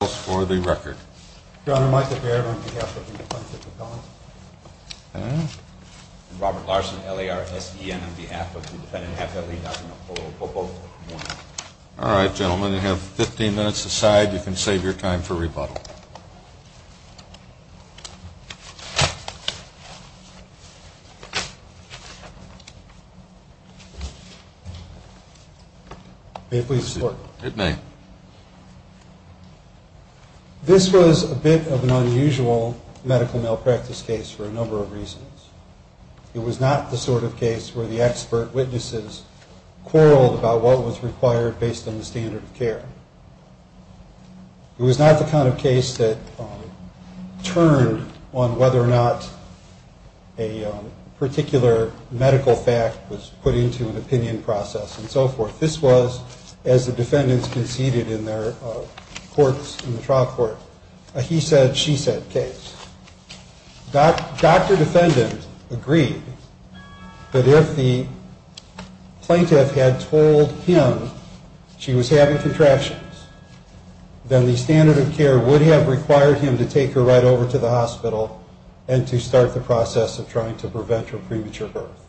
All right, gentlemen, you have 15 minutes aside. You can save your time for rebuttal. This was a bit of an unusual medical malpractice case for a number of reasons. It was not the sort of case where the expert witnesses quarreled about what was required based on whether or not a particular medical fact was put into an opinion process and so forth. This was, as the defendants conceded in their courts, in the trial court, a he-said-she-said case. Dr. Defendant agreed that if the plaintiff had told him she was having contractions, then the standard of care would have required him to take her right over to the hospital and to start the process of trying to prevent her premature birth.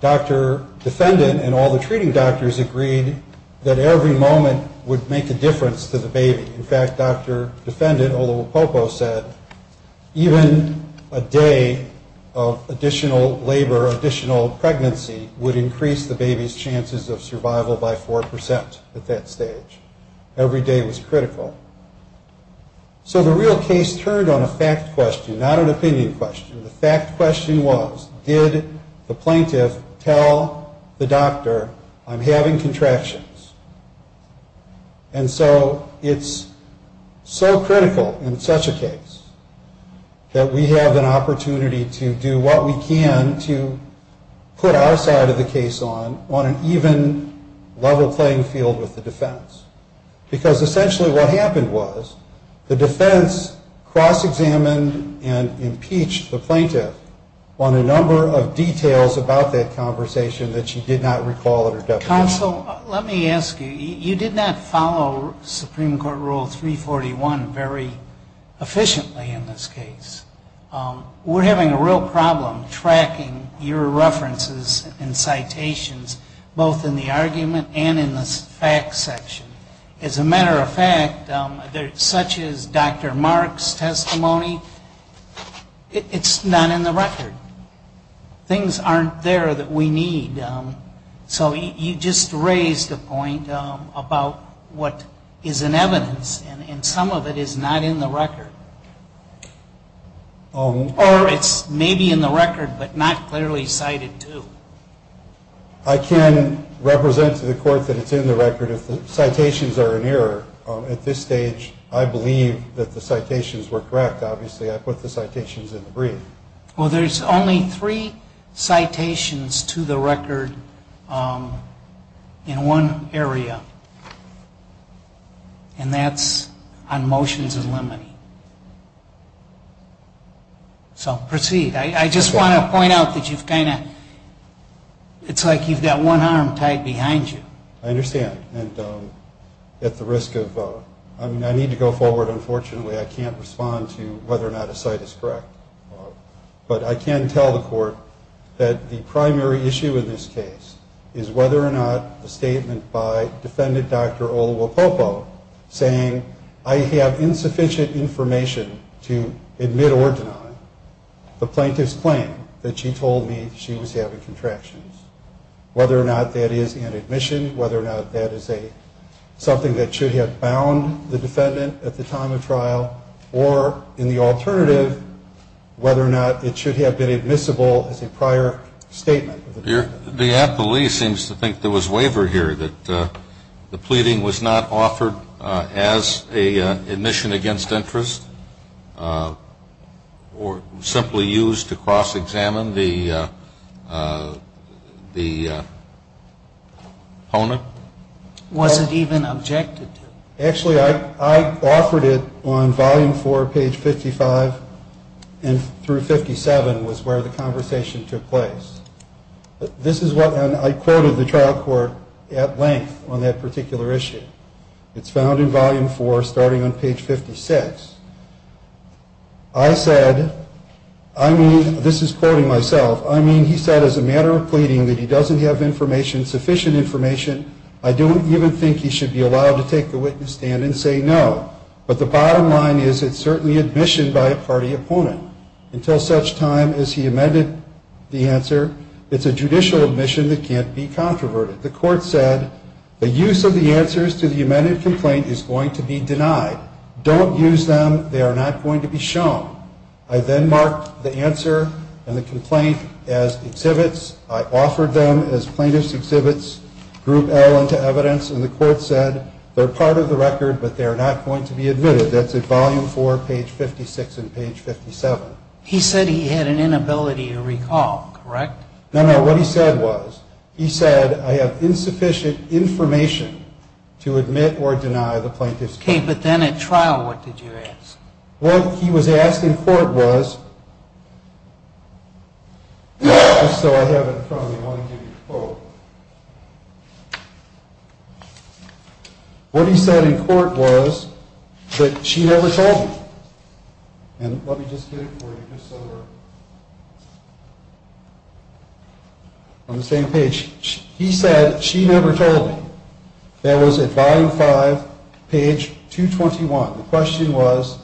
Dr. Defendant and all the treating doctors agreed that every moment would make a difference to the baby. In fact, Dr. Defendant, Olowopopo said, even a day of additional labor, additional pregnancy would increase the baby's chances of survival by 4% at that stage. Every day was critical. So the real case turned on a fact question, not an opinion question. The fact question was, did the plaintiff tell the doctor I'm having contractions? And so it's so critical in such a case that we have an opportunity to do what we can to put our side of the case on, on an even level playing field with the defense. Because essentially what happened was the defense cross-examined and impeached the plaintiff on a number of details about that conversation that she did not recall in her deposition. Counsel, let me ask you, you did not follow Supreme Court Rule 341 very efficiently in this case. We're having a real problem tracking your references and citations both in the argument and in the facts section. As a matter of fact, such as Dr. Mark's testimony, it's not in the record. Things aren't there that we need. So you just raised a point about what is in evidence, and some of it is not in the record. Or it's maybe in the record, but not clearly cited, too. I can represent to the court that it's in the record. If the citations are in error at this stage, I believe that the citations were correct. Obviously I put the citations in the brief. Well, there's only three citations to the record in one area. And that's on motions and limiting. So proceed. I just want to point out that you've kind of, it's like you've got one arm tied behind you. I understand. And at the risk of, I mean, I need to go forward. Unfortunately, I can't respond to whether or not a cite is correct. But I can tell the court that the primary issue in this case is whether or not the statement by defendant Dr. Olowopopo saying I have insufficient information to admit or deny the plaintiff's claim that she told me she was having contractions. Whether or not that is an admission, whether or not that is something that should have bound the defendant at the time of trial, or in the alternative, whether or not it should have been admissible as a prior statement. The appellee seems to think there was waiver here, that the pleading was not offered as an admission against interest or simply used to cross-examine the opponent? Actually, I offered it on volume four, page 55 through 57 was where the conversation took place. This is what I quoted the trial court at length on that particular issue. It's found in volume four, starting on page 56. I said, I mean, this is quoting myself, I mean, he said as a matter of pleading that he doesn't have information, sufficient information, I don't even think he should be allowed to take the witness stand and say no. But the bottom line is it's certainly admission by a party opponent. Until such time as he amended the answer, it's a judicial admission that can't be controverted. The court said the use of the answers to the amended complaint is going to be denied. Don't use them. They are not going to be shown. I then marked the answer and the complaint as exhibits. I offered them as plaintiff's exhibits, group L, into evidence, and the court said they're part of the record, but they are not going to be admitted. That's at volume four, page 56 and page 57. He said he had an inability to recall, correct? No, no, what he said was, he said, I have insufficient information to admit or deny the plaintiff's claim. Okay, but then at trial, what did you ask? What he was asked in court was, just so I have it in front of me, I want to give you a quote. What he said in court was that she never told him. And let me just get it for you just so we're on the same page. He said she never told him. That was at volume five, page 221. The question was,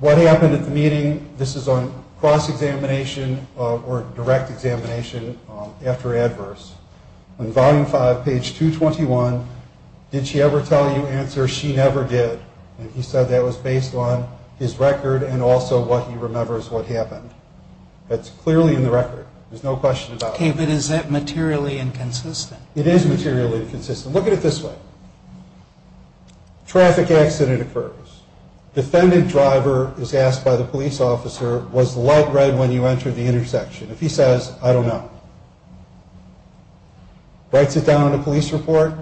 what happened at the meeting? This is on cross-examination or direct examination after adverse. On volume five, page 221, did she ever tell you the answer? She never did. And he said that was based on his record and also what he remembers what happened. That's clearly in the record. There's no question about that. Okay, but is that materially inconsistent? It is materially inconsistent. Look at it this way. Traffic accident occurs. Defendant driver is asked by the police officer, was the light red when you entered the intersection? If he says, I don't know. Writes it down in a police report.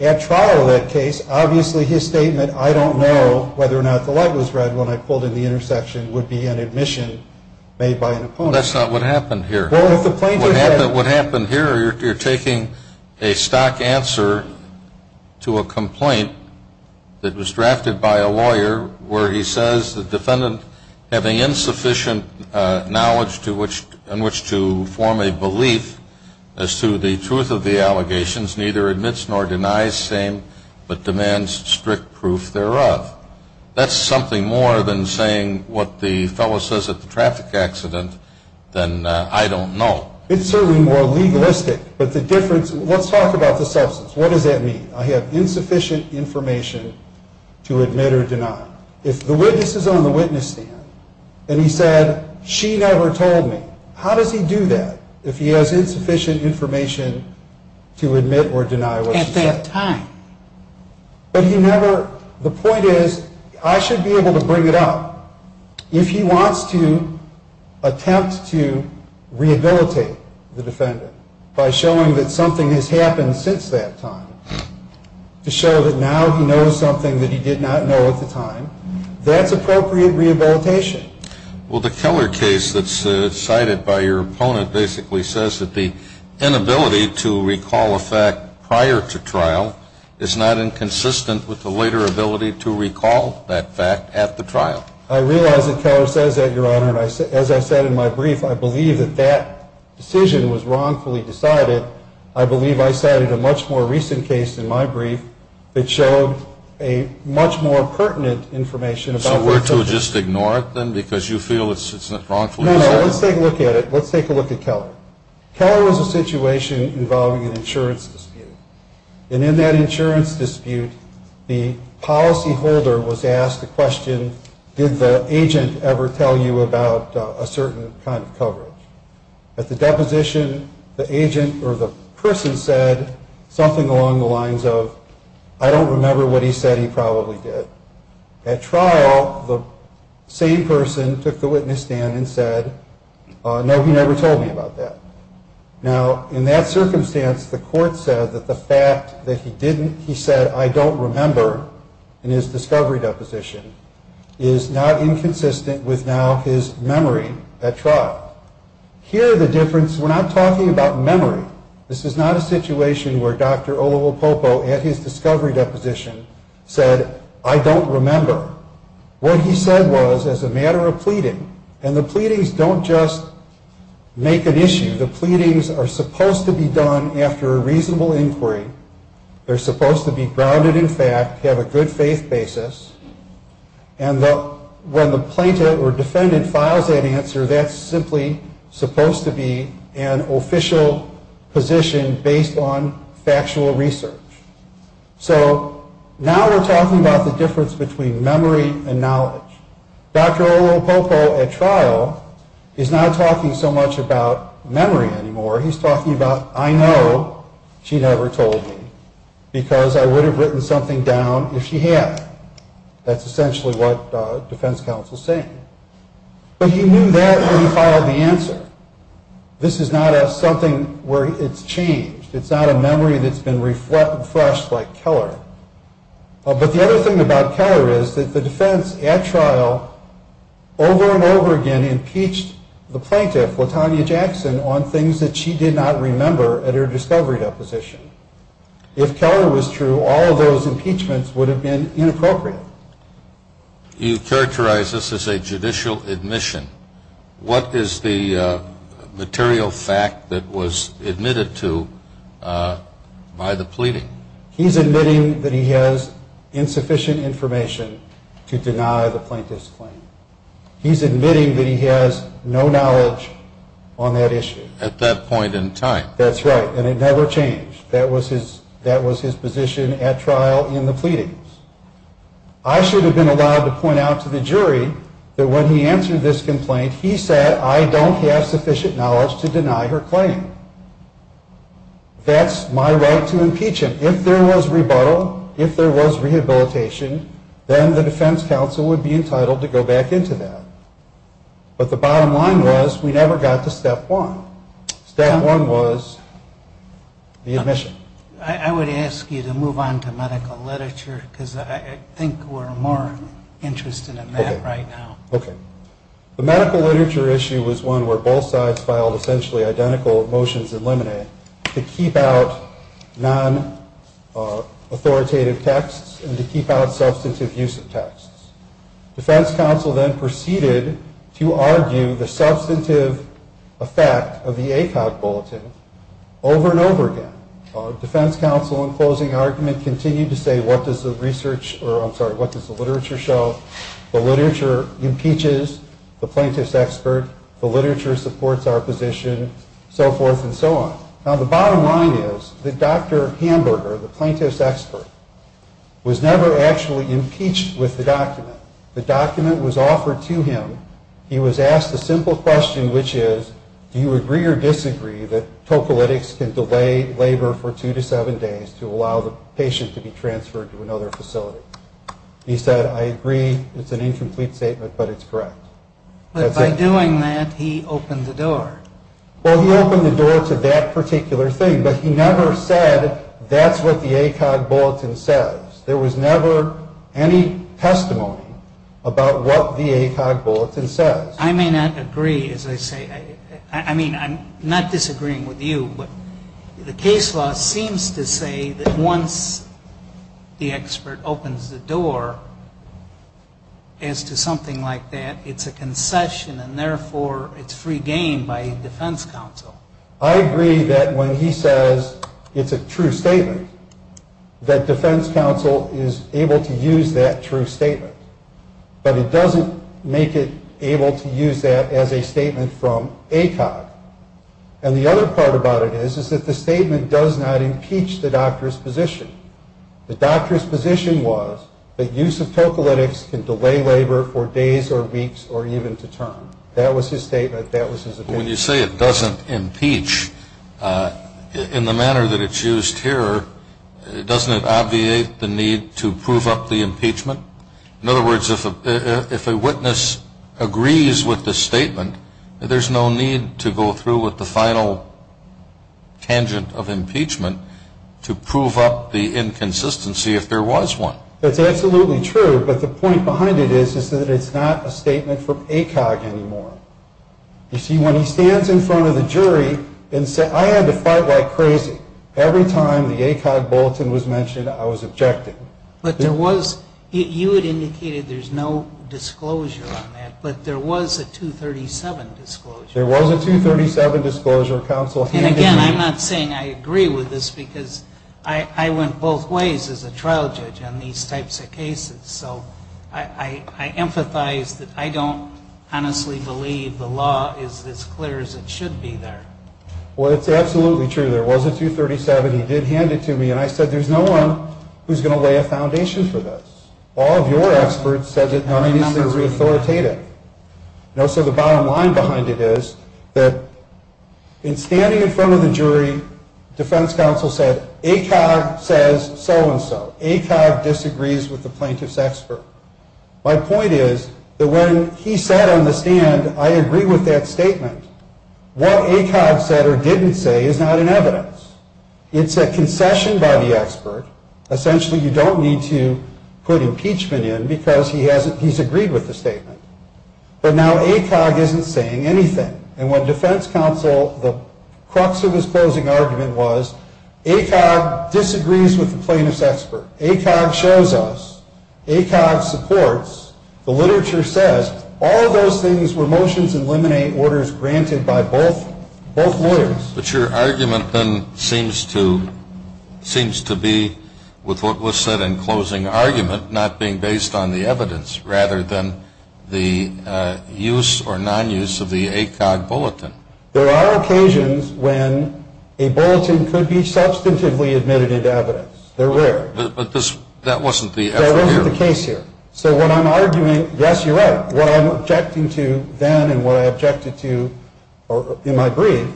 At trial in that case, obviously his statement, I don't know whether or not the light was red when I pulled in the intersection, would be an admission made by an opponent. No, that's not what happened here. What happened here, you're taking a stock answer to a complaint that was drafted by a lawyer where he says the defendant having insufficient knowledge in which to form a belief as to the truth of the allegations neither admits nor denies same but demands strict proof thereof. That's something more than saying what the fellow says at the traffic accident than I don't know. It's certainly more legalistic, but the difference, let's talk about the substance. What does that mean? I have insufficient information to admit or deny. If the witness is on the witness stand and he said she never told me, how does he do that if he has insufficient information to admit or deny what she said? At that time. But he never, the point is, I should be able to bring it up. If he wants to attempt to rehabilitate the defendant by showing that something has happened since that time, to show that now he knows something that he did not know at the time, that's appropriate rehabilitation. Well, the Keller case that's cited by your opponent basically says that the inability to recall a fact prior to trial is not inconsistent with the later ability to recall that fact at the trial. I realize that Keller says that, Your Honor, and as I said in my brief, I believe that that decision was wrongfully decided. I believe I cited a much more recent case in my brief that showed a much more pertinent information about the substance. So we're to just ignore it then because you feel it's wrongfully decided? No, no, let's take a look at it. Let's take a look at Keller. Keller was a situation involving an insurance dispute. And in that insurance dispute, the policyholder was asked the question, did the agent ever tell you about a certain kind of coverage? At the deposition, the agent or the person said something along the lines of, I don't remember what he said he probably did. At trial, the same person took the witness stand and said, no, he never told me about that. Now, in that circumstance, the court said that the fact that he didn't, he said, I don't remember in his discovery deposition is not inconsistent with now his memory at trial. Here the difference, we're not talking about memory. This is not a situation where Dr. Olopopo at his discovery deposition said, I don't remember. What he said was, as a matter of pleading, and the pleadings don't just make an issue. The pleadings are supposed to be done after a reasonable inquiry. They're supposed to be grounded in fact, have a good faith basis. And when the plaintiff or defendant files that answer, that's simply supposed to be an official position based on factual research. So now we're talking about the difference between memory and knowledge. Dr. Olopopo at trial is not talking so much about memory anymore. He's talking about, I know she never told me because I would have written something down if she had. That's essentially what defense counsel is saying. But he knew that when he filed the answer. This is not something where it's changed. It's not a memory that's been refreshed like Keller. But the other thing about Keller is that the defense at trial over and over again impeached the plaintiff, Latonya Jackson, on things that she did not remember at her discovery deposition. If Keller was true, all of those impeachments would have been inappropriate. You characterize this as a judicial admission. What is the material fact that was admitted to by the pleading? He's admitting that he has insufficient information to deny the plaintiff's claim. He's admitting that he has no knowledge on that issue. At that point in time. That's right. And it never changed. That was his position at trial in the pleadings. I should have been allowed to point out to the jury that when he answered this complaint, he said I don't have sufficient knowledge to deny her claim. That's my right to impeach him. If there was rebuttal, if there was rehabilitation, then the defense counsel would be entitled to go back into that. But the bottom line was we never got to step one. Step one was the admission. I would ask you to move on to medical literature because I think we're more interested in that right now. Okay. The medical literature issue was one where both sides filed essentially identical motions in limine to keep out non-authoritative texts and to keep out substantive use of texts. Defense counsel then proceeded to argue the substantive effect of the ACOG bulletin over and over again. Defense counsel in closing argument continued to say what does the literature show? The literature impeaches the plaintiff's expert. The literature supports our position. So forth and so on. Now, the bottom line is that Dr. Hamburger, the plaintiff's expert, was never actually impeached with the document. The document was offered to him. He was asked a simple question, which is do you agree or disagree that tocolytics can delay labor for two to seven days to allow the patient to be transferred to another facility? He said I agree. It's an incomplete statement, but it's correct. But by doing that, he opened the door. Well, he opened the door to that particular thing, but he never said that's what the ACOG bulletin says. There was never any testimony about what the ACOG bulletin says. I may not agree, as I say. I mean, I'm not disagreeing with you, but the case law seems to say that once the expert opens the door as to something like that, it's a concession, and therefore it's free game by defense counsel. I agree that when he says it's a true statement, that defense counsel is able to use that true statement. But it doesn't make it able to use that as a statement from ACOG. And the other part about it is is that the statement does not impeach the doctor's position. The doctor's position was that use of tocolytics can delay labor for days or weeks or even to term. That was his statement. That was his opinion. When you say it doesn't impeach, in the manner that it's used here, doesn't it obviate the need to prove up the impeachment? In other words, if a witness agrees with the statement, there's no need to go through with the final tangent of impeachment to prove up the inconsistency if there was one. That's absolutely true, but the point behind it is that it's not a statement from ACOG anymore. You see, when he stands in front of the jury and says, I had to fight like crazy. Every time the ACOG bulletin was mentioned, I was objected. You had indicated there's no disclosure on that, but there was a 237 disclosure. There was a 237 disclosure. And again, I'm not saying I agree with this because I went both ways as a trial judge on these types of cases. So I emphasize that I don't honestly believe the law is as clear as it should be there. Well, it's absolutely true. There was a 237. He did hand it to me. And I said, there's no one who's going to lay a foundation for this. All of your experts said that none of these things were authoritative. And also the bottom line behind it is that in standing in front of the jury, defense counsel said, ACOG says so-and-so. ACOG disagrees with the plaintiff's expert. My point is that when he sat on the stand, I agree with that statement. What ACOG said or didn't say is not in evidence. It's a concession by the expert. Essentially, you don't need to put impeachment in because he's agreed with the statement. But now ACOG isn't saying anything. And when defense counsel, the crux of his closing argument was, ACOG disagrees with the plaintiff's expert. ACOG shows us. ACOG supports. The literature says. All of those things were motions to eliminate orders granted by both lawyers. But your argument then seems to be, with what was said in closing argument, not being based on the evidence rather than the use or non-use of the ACOG bulletin. There are occasions when a bulletin could be substantively admitted into evidence. They're rare. But that wasn't the effort here. That wasn't the case here. So what I'm arguing, yes, you're right, what I'm objecting to then and what I objected to in my brief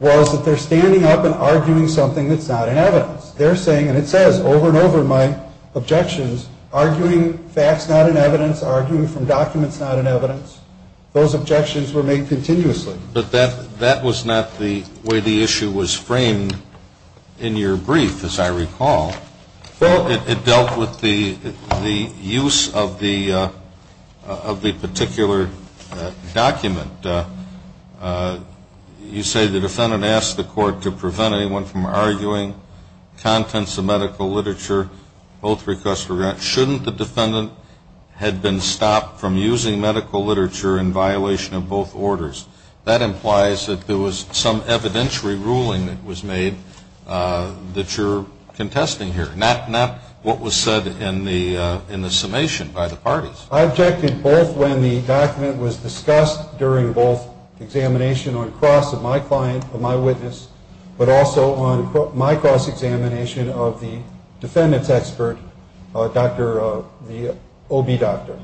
was that they're standing up and arguing something that's not in evidence. They're saying, and it says over and over in my objections, arguing facts not in evidence, arguing from documents not in evidence. Those objections were made continuously. But that was not the way the issue was framed in your brief, as I recall. It dealt with the use of the particular document. You say the defendant asked the court to prevent anyone from arguing contents of medical literature. Both requests were granted. Shouldn't the defendant have been stopped from using medical literature in violation of both orders? That implies that there was some evidentiary ruling that was made that you're contesting here, not what was said in the summation by the parties. I objected both when the document was discussed during both examination on cross of my client, of my witness, but also on my cross-examination of the defendant's expert, the OB doctor.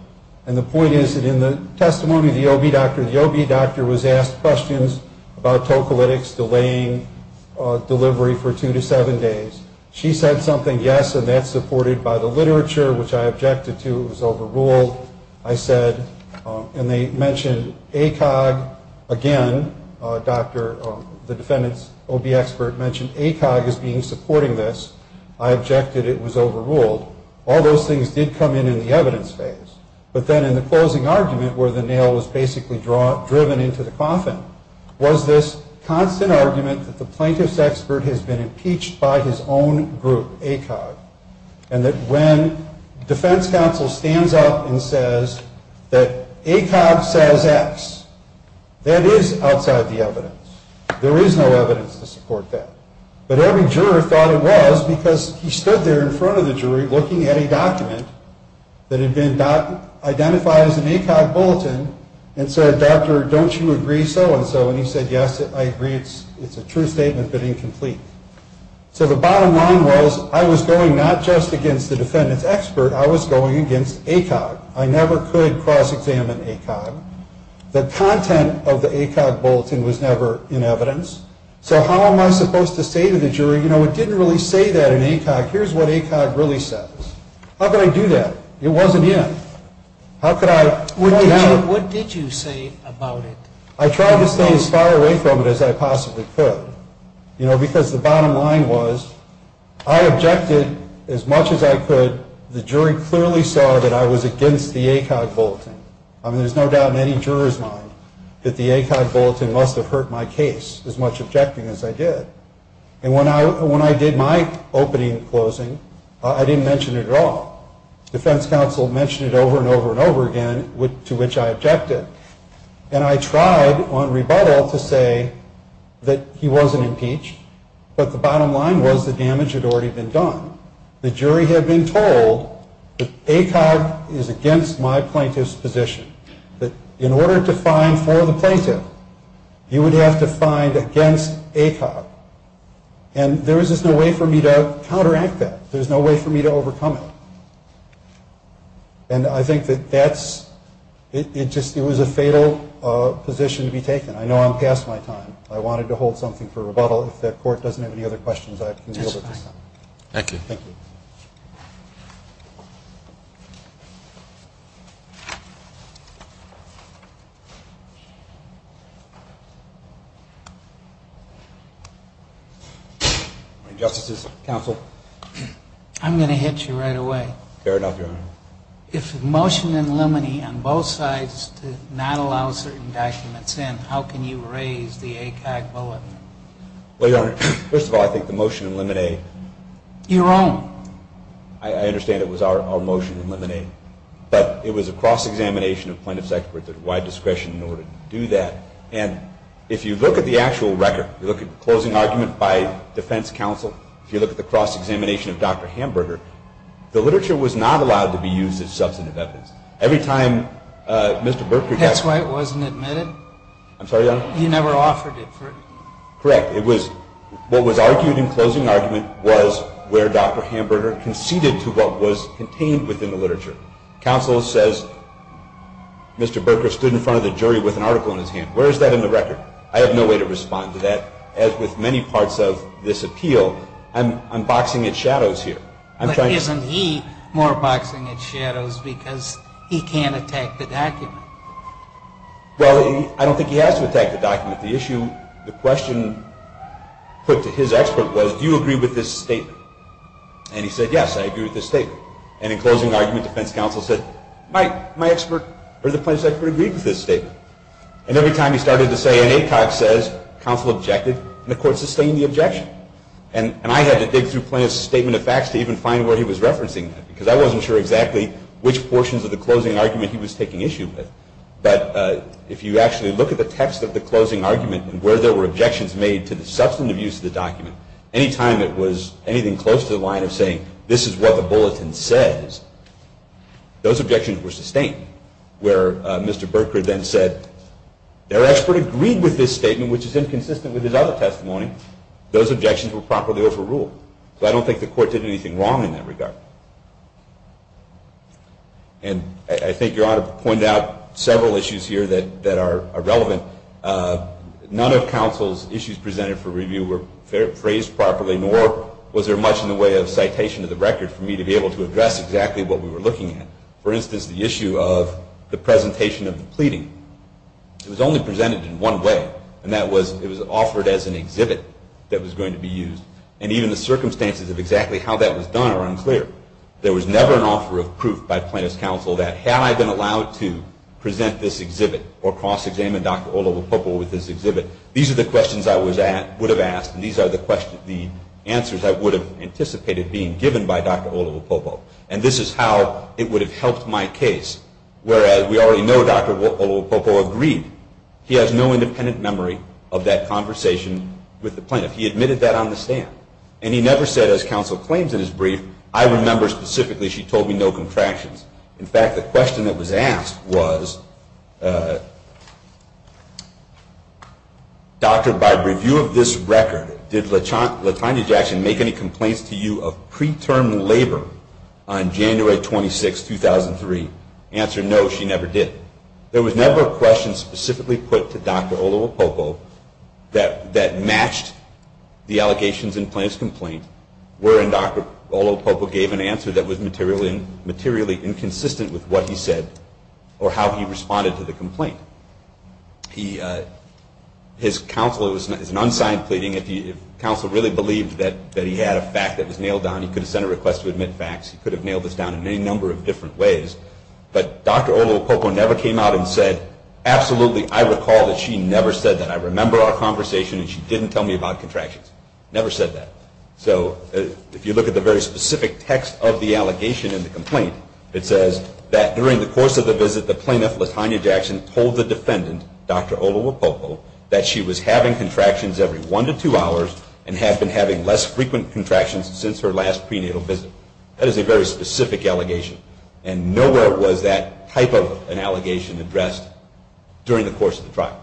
And the point is that in the testimony of the OB doctor, the OB doctor was asked questions about tocolytics delaying delivery for two to seven days. She said something, yes, and that's supported by the literature, which I objected to. It was overruled, I said. And they mentioned ACOG again. The defendant's OB expert mentioned ACOG as being supporting this. I objected it was overruled. All those things did come in in the evidence phase. But then in the closing argument, where the nail was basically driven into the coffin, was this constant argument that the plaintiff's expert has been impeached by his own group, ACOG, and that when defense counsel stands up and says that ACOG says X, that is outside the evidence. There is no evidence to support that. But every juror thought it was because he stood there in front of the jury looking at a document that had been identified as an ACOG bulletin and said, doctor, don't you agree so-and-so? And he said, yes, I agree. It's a true statement, but incomplete. So the bottom line was I was going not just against the defendant's expert. I was going against ACOG. I never could cross-examine ACOG. The content of the ACOG bulletin was never in evidence. So how am I supposed to say to the jury, you know, it didn't really say that in ACOG. Here's what ACOG really says. How could I do that? It wasn't in. How could I point that out? What did you say about it? I tried to stay as far away from it as I possibly could, you know, because the bottom line was I objected as much as I could. The jury clearly saw that I was against the ACOG bulletin. I mean, there's no doubt in any juror's mind that the ACOG bulletin must have hurt my case, as much objecting as I did. And when I did my opening and closing, I didn't mention it at all. Defense counsel mentioned it over and over and over again, to which I objected. And I tried on rebuttal to say that he wasn't impeached, but the bottom line was the damage had already been done. The jury had been told that ACOG is against my plaintiff's position, that in order to find for the plaintiff, you would have to find against ACOG. And there was just no way for me to counteract that. There was no way for me to overcome it. And I think that that's – it just – it was a fatal position to be taken. I know I'm past my time. I wanted to hold something for rebuttal. If the court doesn't have any other questions, I can deal with it this time. Thank you. Thank you. Justices, counsel. I'm going to hit you right away. Fair enough, Your Honor. If a motion in limine on both sides to not allow certain documents in, how can you raise the ACOG bullet? Well, Your Honor, first of all, I think the motion in limine – Your own. I understand it was our motion in limine, but it was a cross-examination of plaintiff's expertise and wide discretion in order to do that. And if you look at the actual record, you look at closing argument by defense counsel, if you look at the cross-examination of Dr. Hamburger, the literature was not allowed to be used as substantive evidence. Every time Mr. Burger – That's why it wasn't admitted? I'm sorry, Your Honor? He never offered it for – Correct. It was – what was argued in closing argument was where Dr. Hamburger conceded to what was contained within the literature. Counsel says Mr. Burger stood in front of the jury with an article in his hand. Where is that in the record? I have no way to respond to that. As with many parts of this appeal, I'm boxing its shadows here. But isn't he more boxing its shadows because he can't attack the document? Well, I don't think he has to attack the document. The issue – the question put to his expert was, do you agree with this statement? And he said, yes, I agree with this statement. And in closing argument, defense counsel said, my expert or the plaintiff's expert agreed with this statement. And every time he started to say, and Acock says, counsel objected, and the court sustained the objection. And I had to dig through Plaintiff's statement of facts to even find where he was referencing that because I wasn't sure exactly which portions of the closing argument he was taking issue with. But if you actually look at the text of the closing argument and where there were objections made to the substantive use of the document, any time it was anything close to the line of saying, this is what the bulletin says, those objections were sustained. Where Mr. Burkard then said, their expert agreed with this statement, which is inconsistent with his other testimony. Those objections were properly overruled. So I don't think the court did anything wrong in that regard. And I think Your Honor pointed out several issues here that are relevant. None of counsel's issues presented for review were phrased properly, nor was there much in the way of citation of the record for me to be able to address exactly what we were looking at. For instance, the issue of the presentation of the pleading. It was only presented in one way, and that was it was offered as an exhibit that was going to be used. And even the circumstances of exactly how that was done are unclear. There was never an offer of proof by plaintiff's counsel that had I been allowed to present this exhibit or cross-examine Dr. Olavopopo with this exhibit, these are the questions I would have asked and these are the answers I would have anticipated being given by Dr. Olavopopo. And this is how it would have helped my case, whereas we already know Dr. Olavopopo agreed. He has no independent memory of that conversation with the plaintiff. He admitted that on the stand. And he never said, as counsel claims in his brief, I remember specifically she told me no contractions. In fact, the question that was asked was, Dr., by review of this record, did Latanya Jackson make any complaints to you of preterm labor on January 26, 2003? Answer, no, she never did. There was never a question specifically put to Dr. Olavopopo that matched the allegations in plaintiff's complaint wherein Dr. Olavopopo gave an answer that was materially inconsistent with what he said or how he responded to the complaint. His counsel, it was an unsigned pleading, if counsel really believed that he had a fact that was nailed down, he could have sent a request to admit facts, he could have nailed this down in any number of different ways. But Dr. Olavopopo never came out and said, absolutely, I recall that she never said that. I remember our conversation and she didn't tell me about contractions. Never said that. So if you look at the very specific text of the allegation in the complaint, it says that during the course of the visit, the plaintiff, Latanya Jackson, told the defendant, Dr. Olavopopo, that she was having contractions every one to two hours and had been having less frequent contractions since her last prenatal visit. That is a very specific allegation. And nowhere was that type of an allegation addressed during the course of the trial.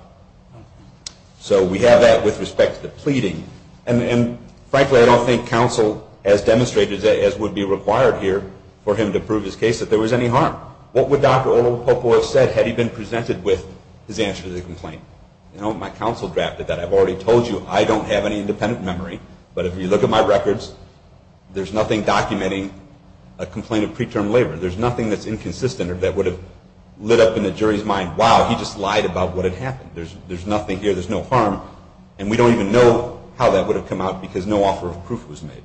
So we have that with respect to the pleading. And frankly, I don't think counsel has demonstrated as would be required here for him to prove his case that there was any harm. What would Dr. Olavopopo have said had he been presented with his answer to the complaint? You know, my counsel drafted that. I've already told you, I don't have any independent memory. But if you look at my records, there's nothing documenting a complaint of preterm labor. There's nothing that's inconsistent or that would have lit up in the jury's mind, wow, he just lied about what had happened. There's nothing here, there's no harm. And we don't even know how that would have come out because no offer of proof was made.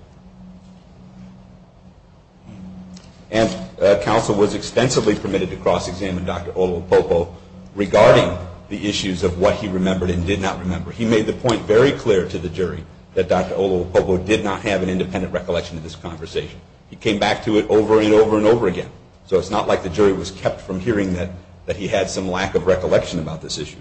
And counsel was extensively permitted to cross-examine Dr. Olavopopo regarding the issues of what he remembered and did not remember. He made the point very clear to the jury that Dr. Olavopopo did not have an independent recollection of this conversation. He came back to it over and over and over again. So it's not like the jury was kept from hearing that he had some lack of recollection about this issue.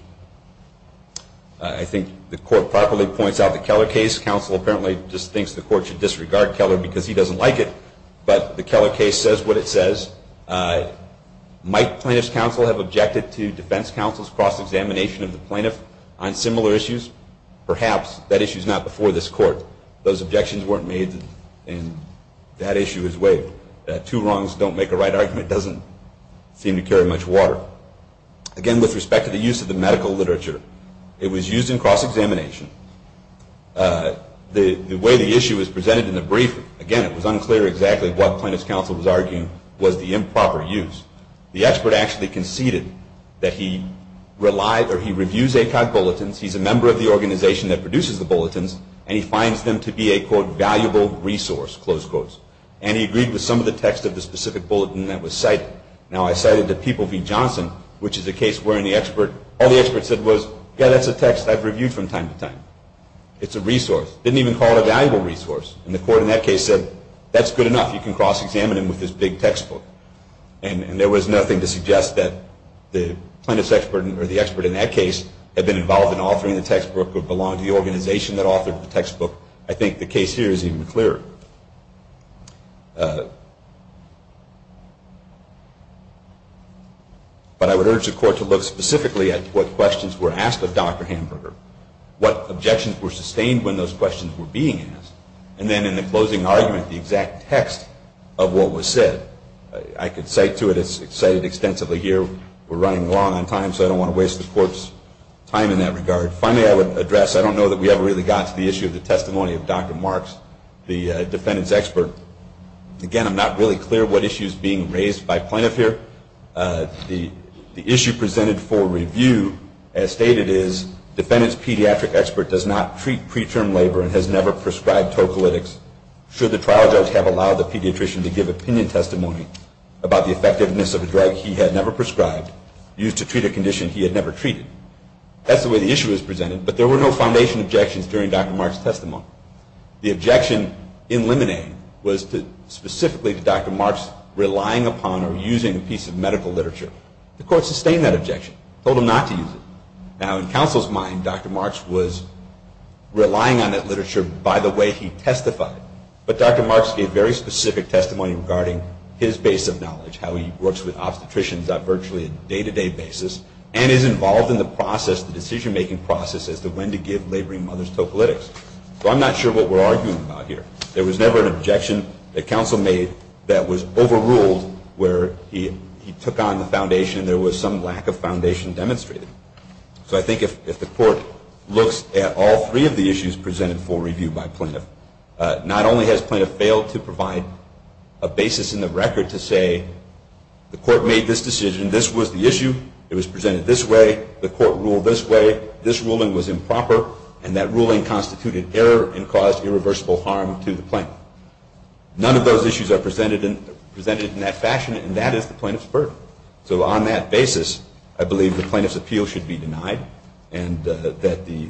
I think the court properly points out the Keller case. Counsel apparently just thinks the court should disregard Keller because he doesn't like it. But the Keller case says what it says. Might plaintiff's counsel have objected to defense counsel's cross-examination of the plaintiff on similar issues? Perhaps. That issue's not before this court. Those objections weren't made and that issue is waived. Two wrongs don't make a right argument doesn't seem to carry much water. Again, with respect to the use of the medical literature, it was used in cross-examination. The way the issue is presented in the briefer, again, it was unclear exactly what plaintiff's counsel was arguing was the improper use. The expert actually conceded that he reviews ACOG bulletins, he's a member of the organization that produces the bulletins, and he finds them to be a, quote, valuable resource, close quotes. And he agreed with some of the text of the specific bulletin that was cited. Now, I cited the People v. Johnson, which is a case wherein the expert, all the expert said was, yeah, that's a text I've reviewed from time to time. It's a resource. Didn't even call it a valuable resource. And the court in that case said, that's good enough. You can cross-examine him with this big textbook. And there was nothing to suggest that the plaintiff's expert or the expert in that case had been involved in authoring the textbook or belonged to the organization that authored the textbook. I think the case here is even clearer. But I would urge the court to look specifically at what questions were asked of Dr. Hamburger, what objections were sustained when those questions were being asked, and then in the closing argument, the exact text of what was said. I could cite to it, it's cited extensively here. We're running long on time, so I don't want to waste the court's time in that regard. Finally, I would address, I don't know that we ever really got to the issue of the testimony of Dr. Marks, the defendant's expert. Again, I'm not really clear what issue is being raised by plaintiff here. The issue presented for review as stated is, defendant's pediatric expert does not treat preterm labor and has never prescribed tocolytics should the trial judge have allowed the pediatrician to give opinion testimony about the effectiveness of a drug he had never prescribed used to treat a condition he had never treated. That's the way the issue is presented, but there were no foundation objections during Dr. Marks' testimony. The objection in Lemonade was specifically to Dr. Marks relying upon or using a piece of medical literature. The court sustained that objection, told him not to use it. Now, in counsel's mind, Dr. Marks was relying on that literature by the way he testified, but Dr. Marks gave very specific testimony regarding his base of knowledge, how he works with obstetricians on virtually a day-to-day basis and is involved in the process, the decision-making process as to when to give laboring mothers tocolytics. So I'm not sure what we're arguing about here. There was never an objection that counsel made that was overruled where he took on the foundation and there was some lack of foundation demonstrated. So I think if the court looks at all three of the issues presented for review by plaintiff, not only has plaintiff failed to provide a basis in the record to say the court made this decision, this was the issue, it was presented this way, the court ruled this way, this ruling was improper, and that ruling constituted error and caused irreversible harm to the plaintiff. None of those issues are presented in that fashion, and that is the plaintiff's burden. So on that basis, I believe the plaintiff's appeal should be denied and that the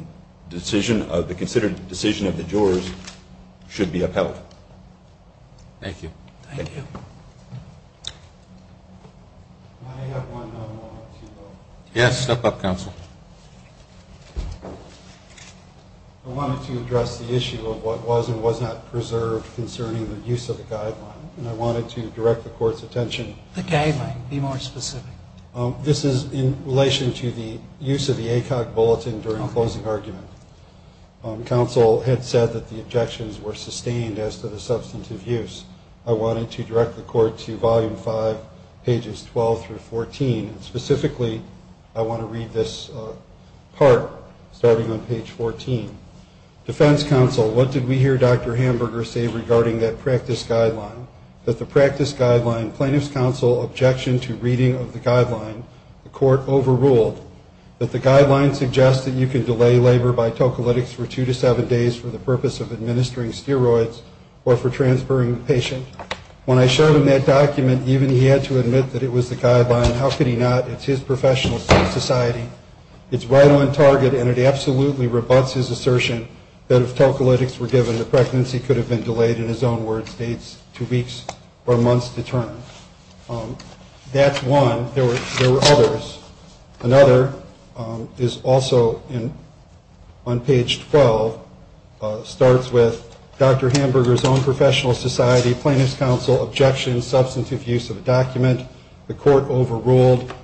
considered decision of the jurors should be upheld. Thank you. Thank you. May I have one moment? Yes, step up, counsel. I wanted to address the issue of what was and was not preserved concerning the use of the guideline, and I wanted to direct the court's attention. The guideline. Be more specific. This is in relation to the use of the ACOG bulletin during the closing argument. Counsel had said that the objections were sustained as to the substantive use. I wanted to direct the court to Volume 5, pages 12 through 14. Specifically, I want to read this part, starting on page 14. Defense counsel, what did we hear Dr. Hamburger say regarding that practice guideline? That the practice guideline, plaintiff's counsel objection to reading of the guideline, the court overruled. That the guideline suggests that you can delay labor by tocolytics for two to seven days for the purpose of administering steroids or for transferring the patient. When I showed him that document, even he had to admit that it was the guideline. How could he not? It's his professional sense of society. It's right on target and it absolutely rebuts his assertion that if tocolytics were given, the pregnancy could have been delayed, in his own words, two weeks or months to term. That's one. There were others. Another is also on page 12, starts with Dr. Hamburger's own professional society, plaintiff's counsel objection, substantive use of a document, the court overruled.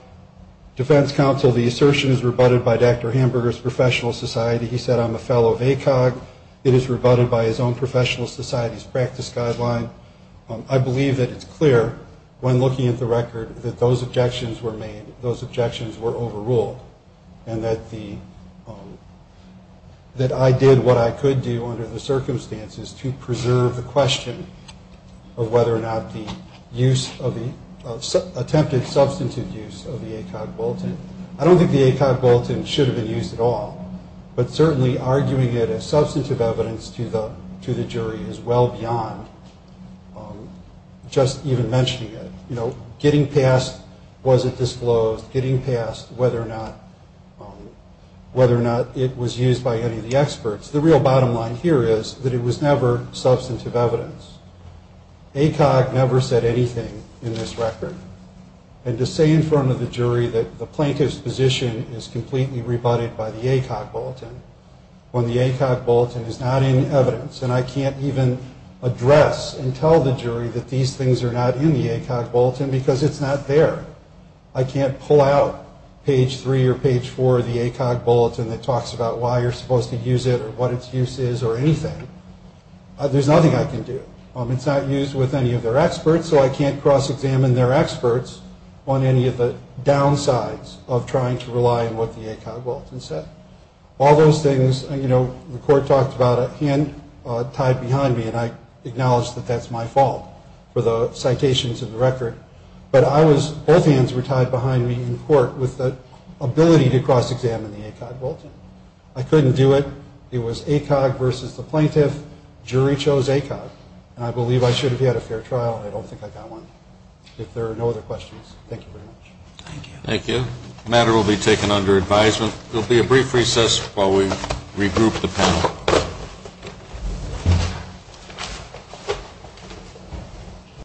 Defense counsel, the assertion is rebutted by Dr. Hamburger's professional society. He said, I'm a fellow of ACOG. It is rebutted by his own professional society's practice guideline. I believe that it's clear when looking at the record that those objections were made, those objections were overruled and that I did what I could do under the circumstances to preserve the question of attempted substantive use of the ACOG bulletin. I don't think the ACOG bulletin should have been used at all, but certainly arguing it as substantive evidence to the jury is well beyond just even mentioning it. You know, getting past was it disclosed, getting past whether or not it was used by any of the experts, the real bottom line here is that it was never substantive evidence. ACOG never said anything in this record. And to say in front of the jury that the plaintiff's position is completely rebutted by the ACOG bulletin when the ACOG bulletin is not in evidence, and I can't even address and tell the jury that these things are not in the ACOG bulletin because it's not there. I can't pull out page 3 or page 4 of the ACOG bulletin that talks about why you're supposed to use it or what its use is or anything. There's nothing I can do. It's not used with any of their experts, so I can't cross-examine their experts on any of the downsides of trying to rely on what the ACOG bulletin said. All those things, you know, the court talked about a hand tied behind me, and I acknowledge that that's my fault for the citations of the record, but both hands were tied behind me in court with the ability to cross-examine the ACOG bulletin. I couldn't do it. It was ACOG versus the plaintiff. Jury chose ACOG. And I believe I should have had a fair trial, and I don't think I got one. If there are no other questions, thank you very much.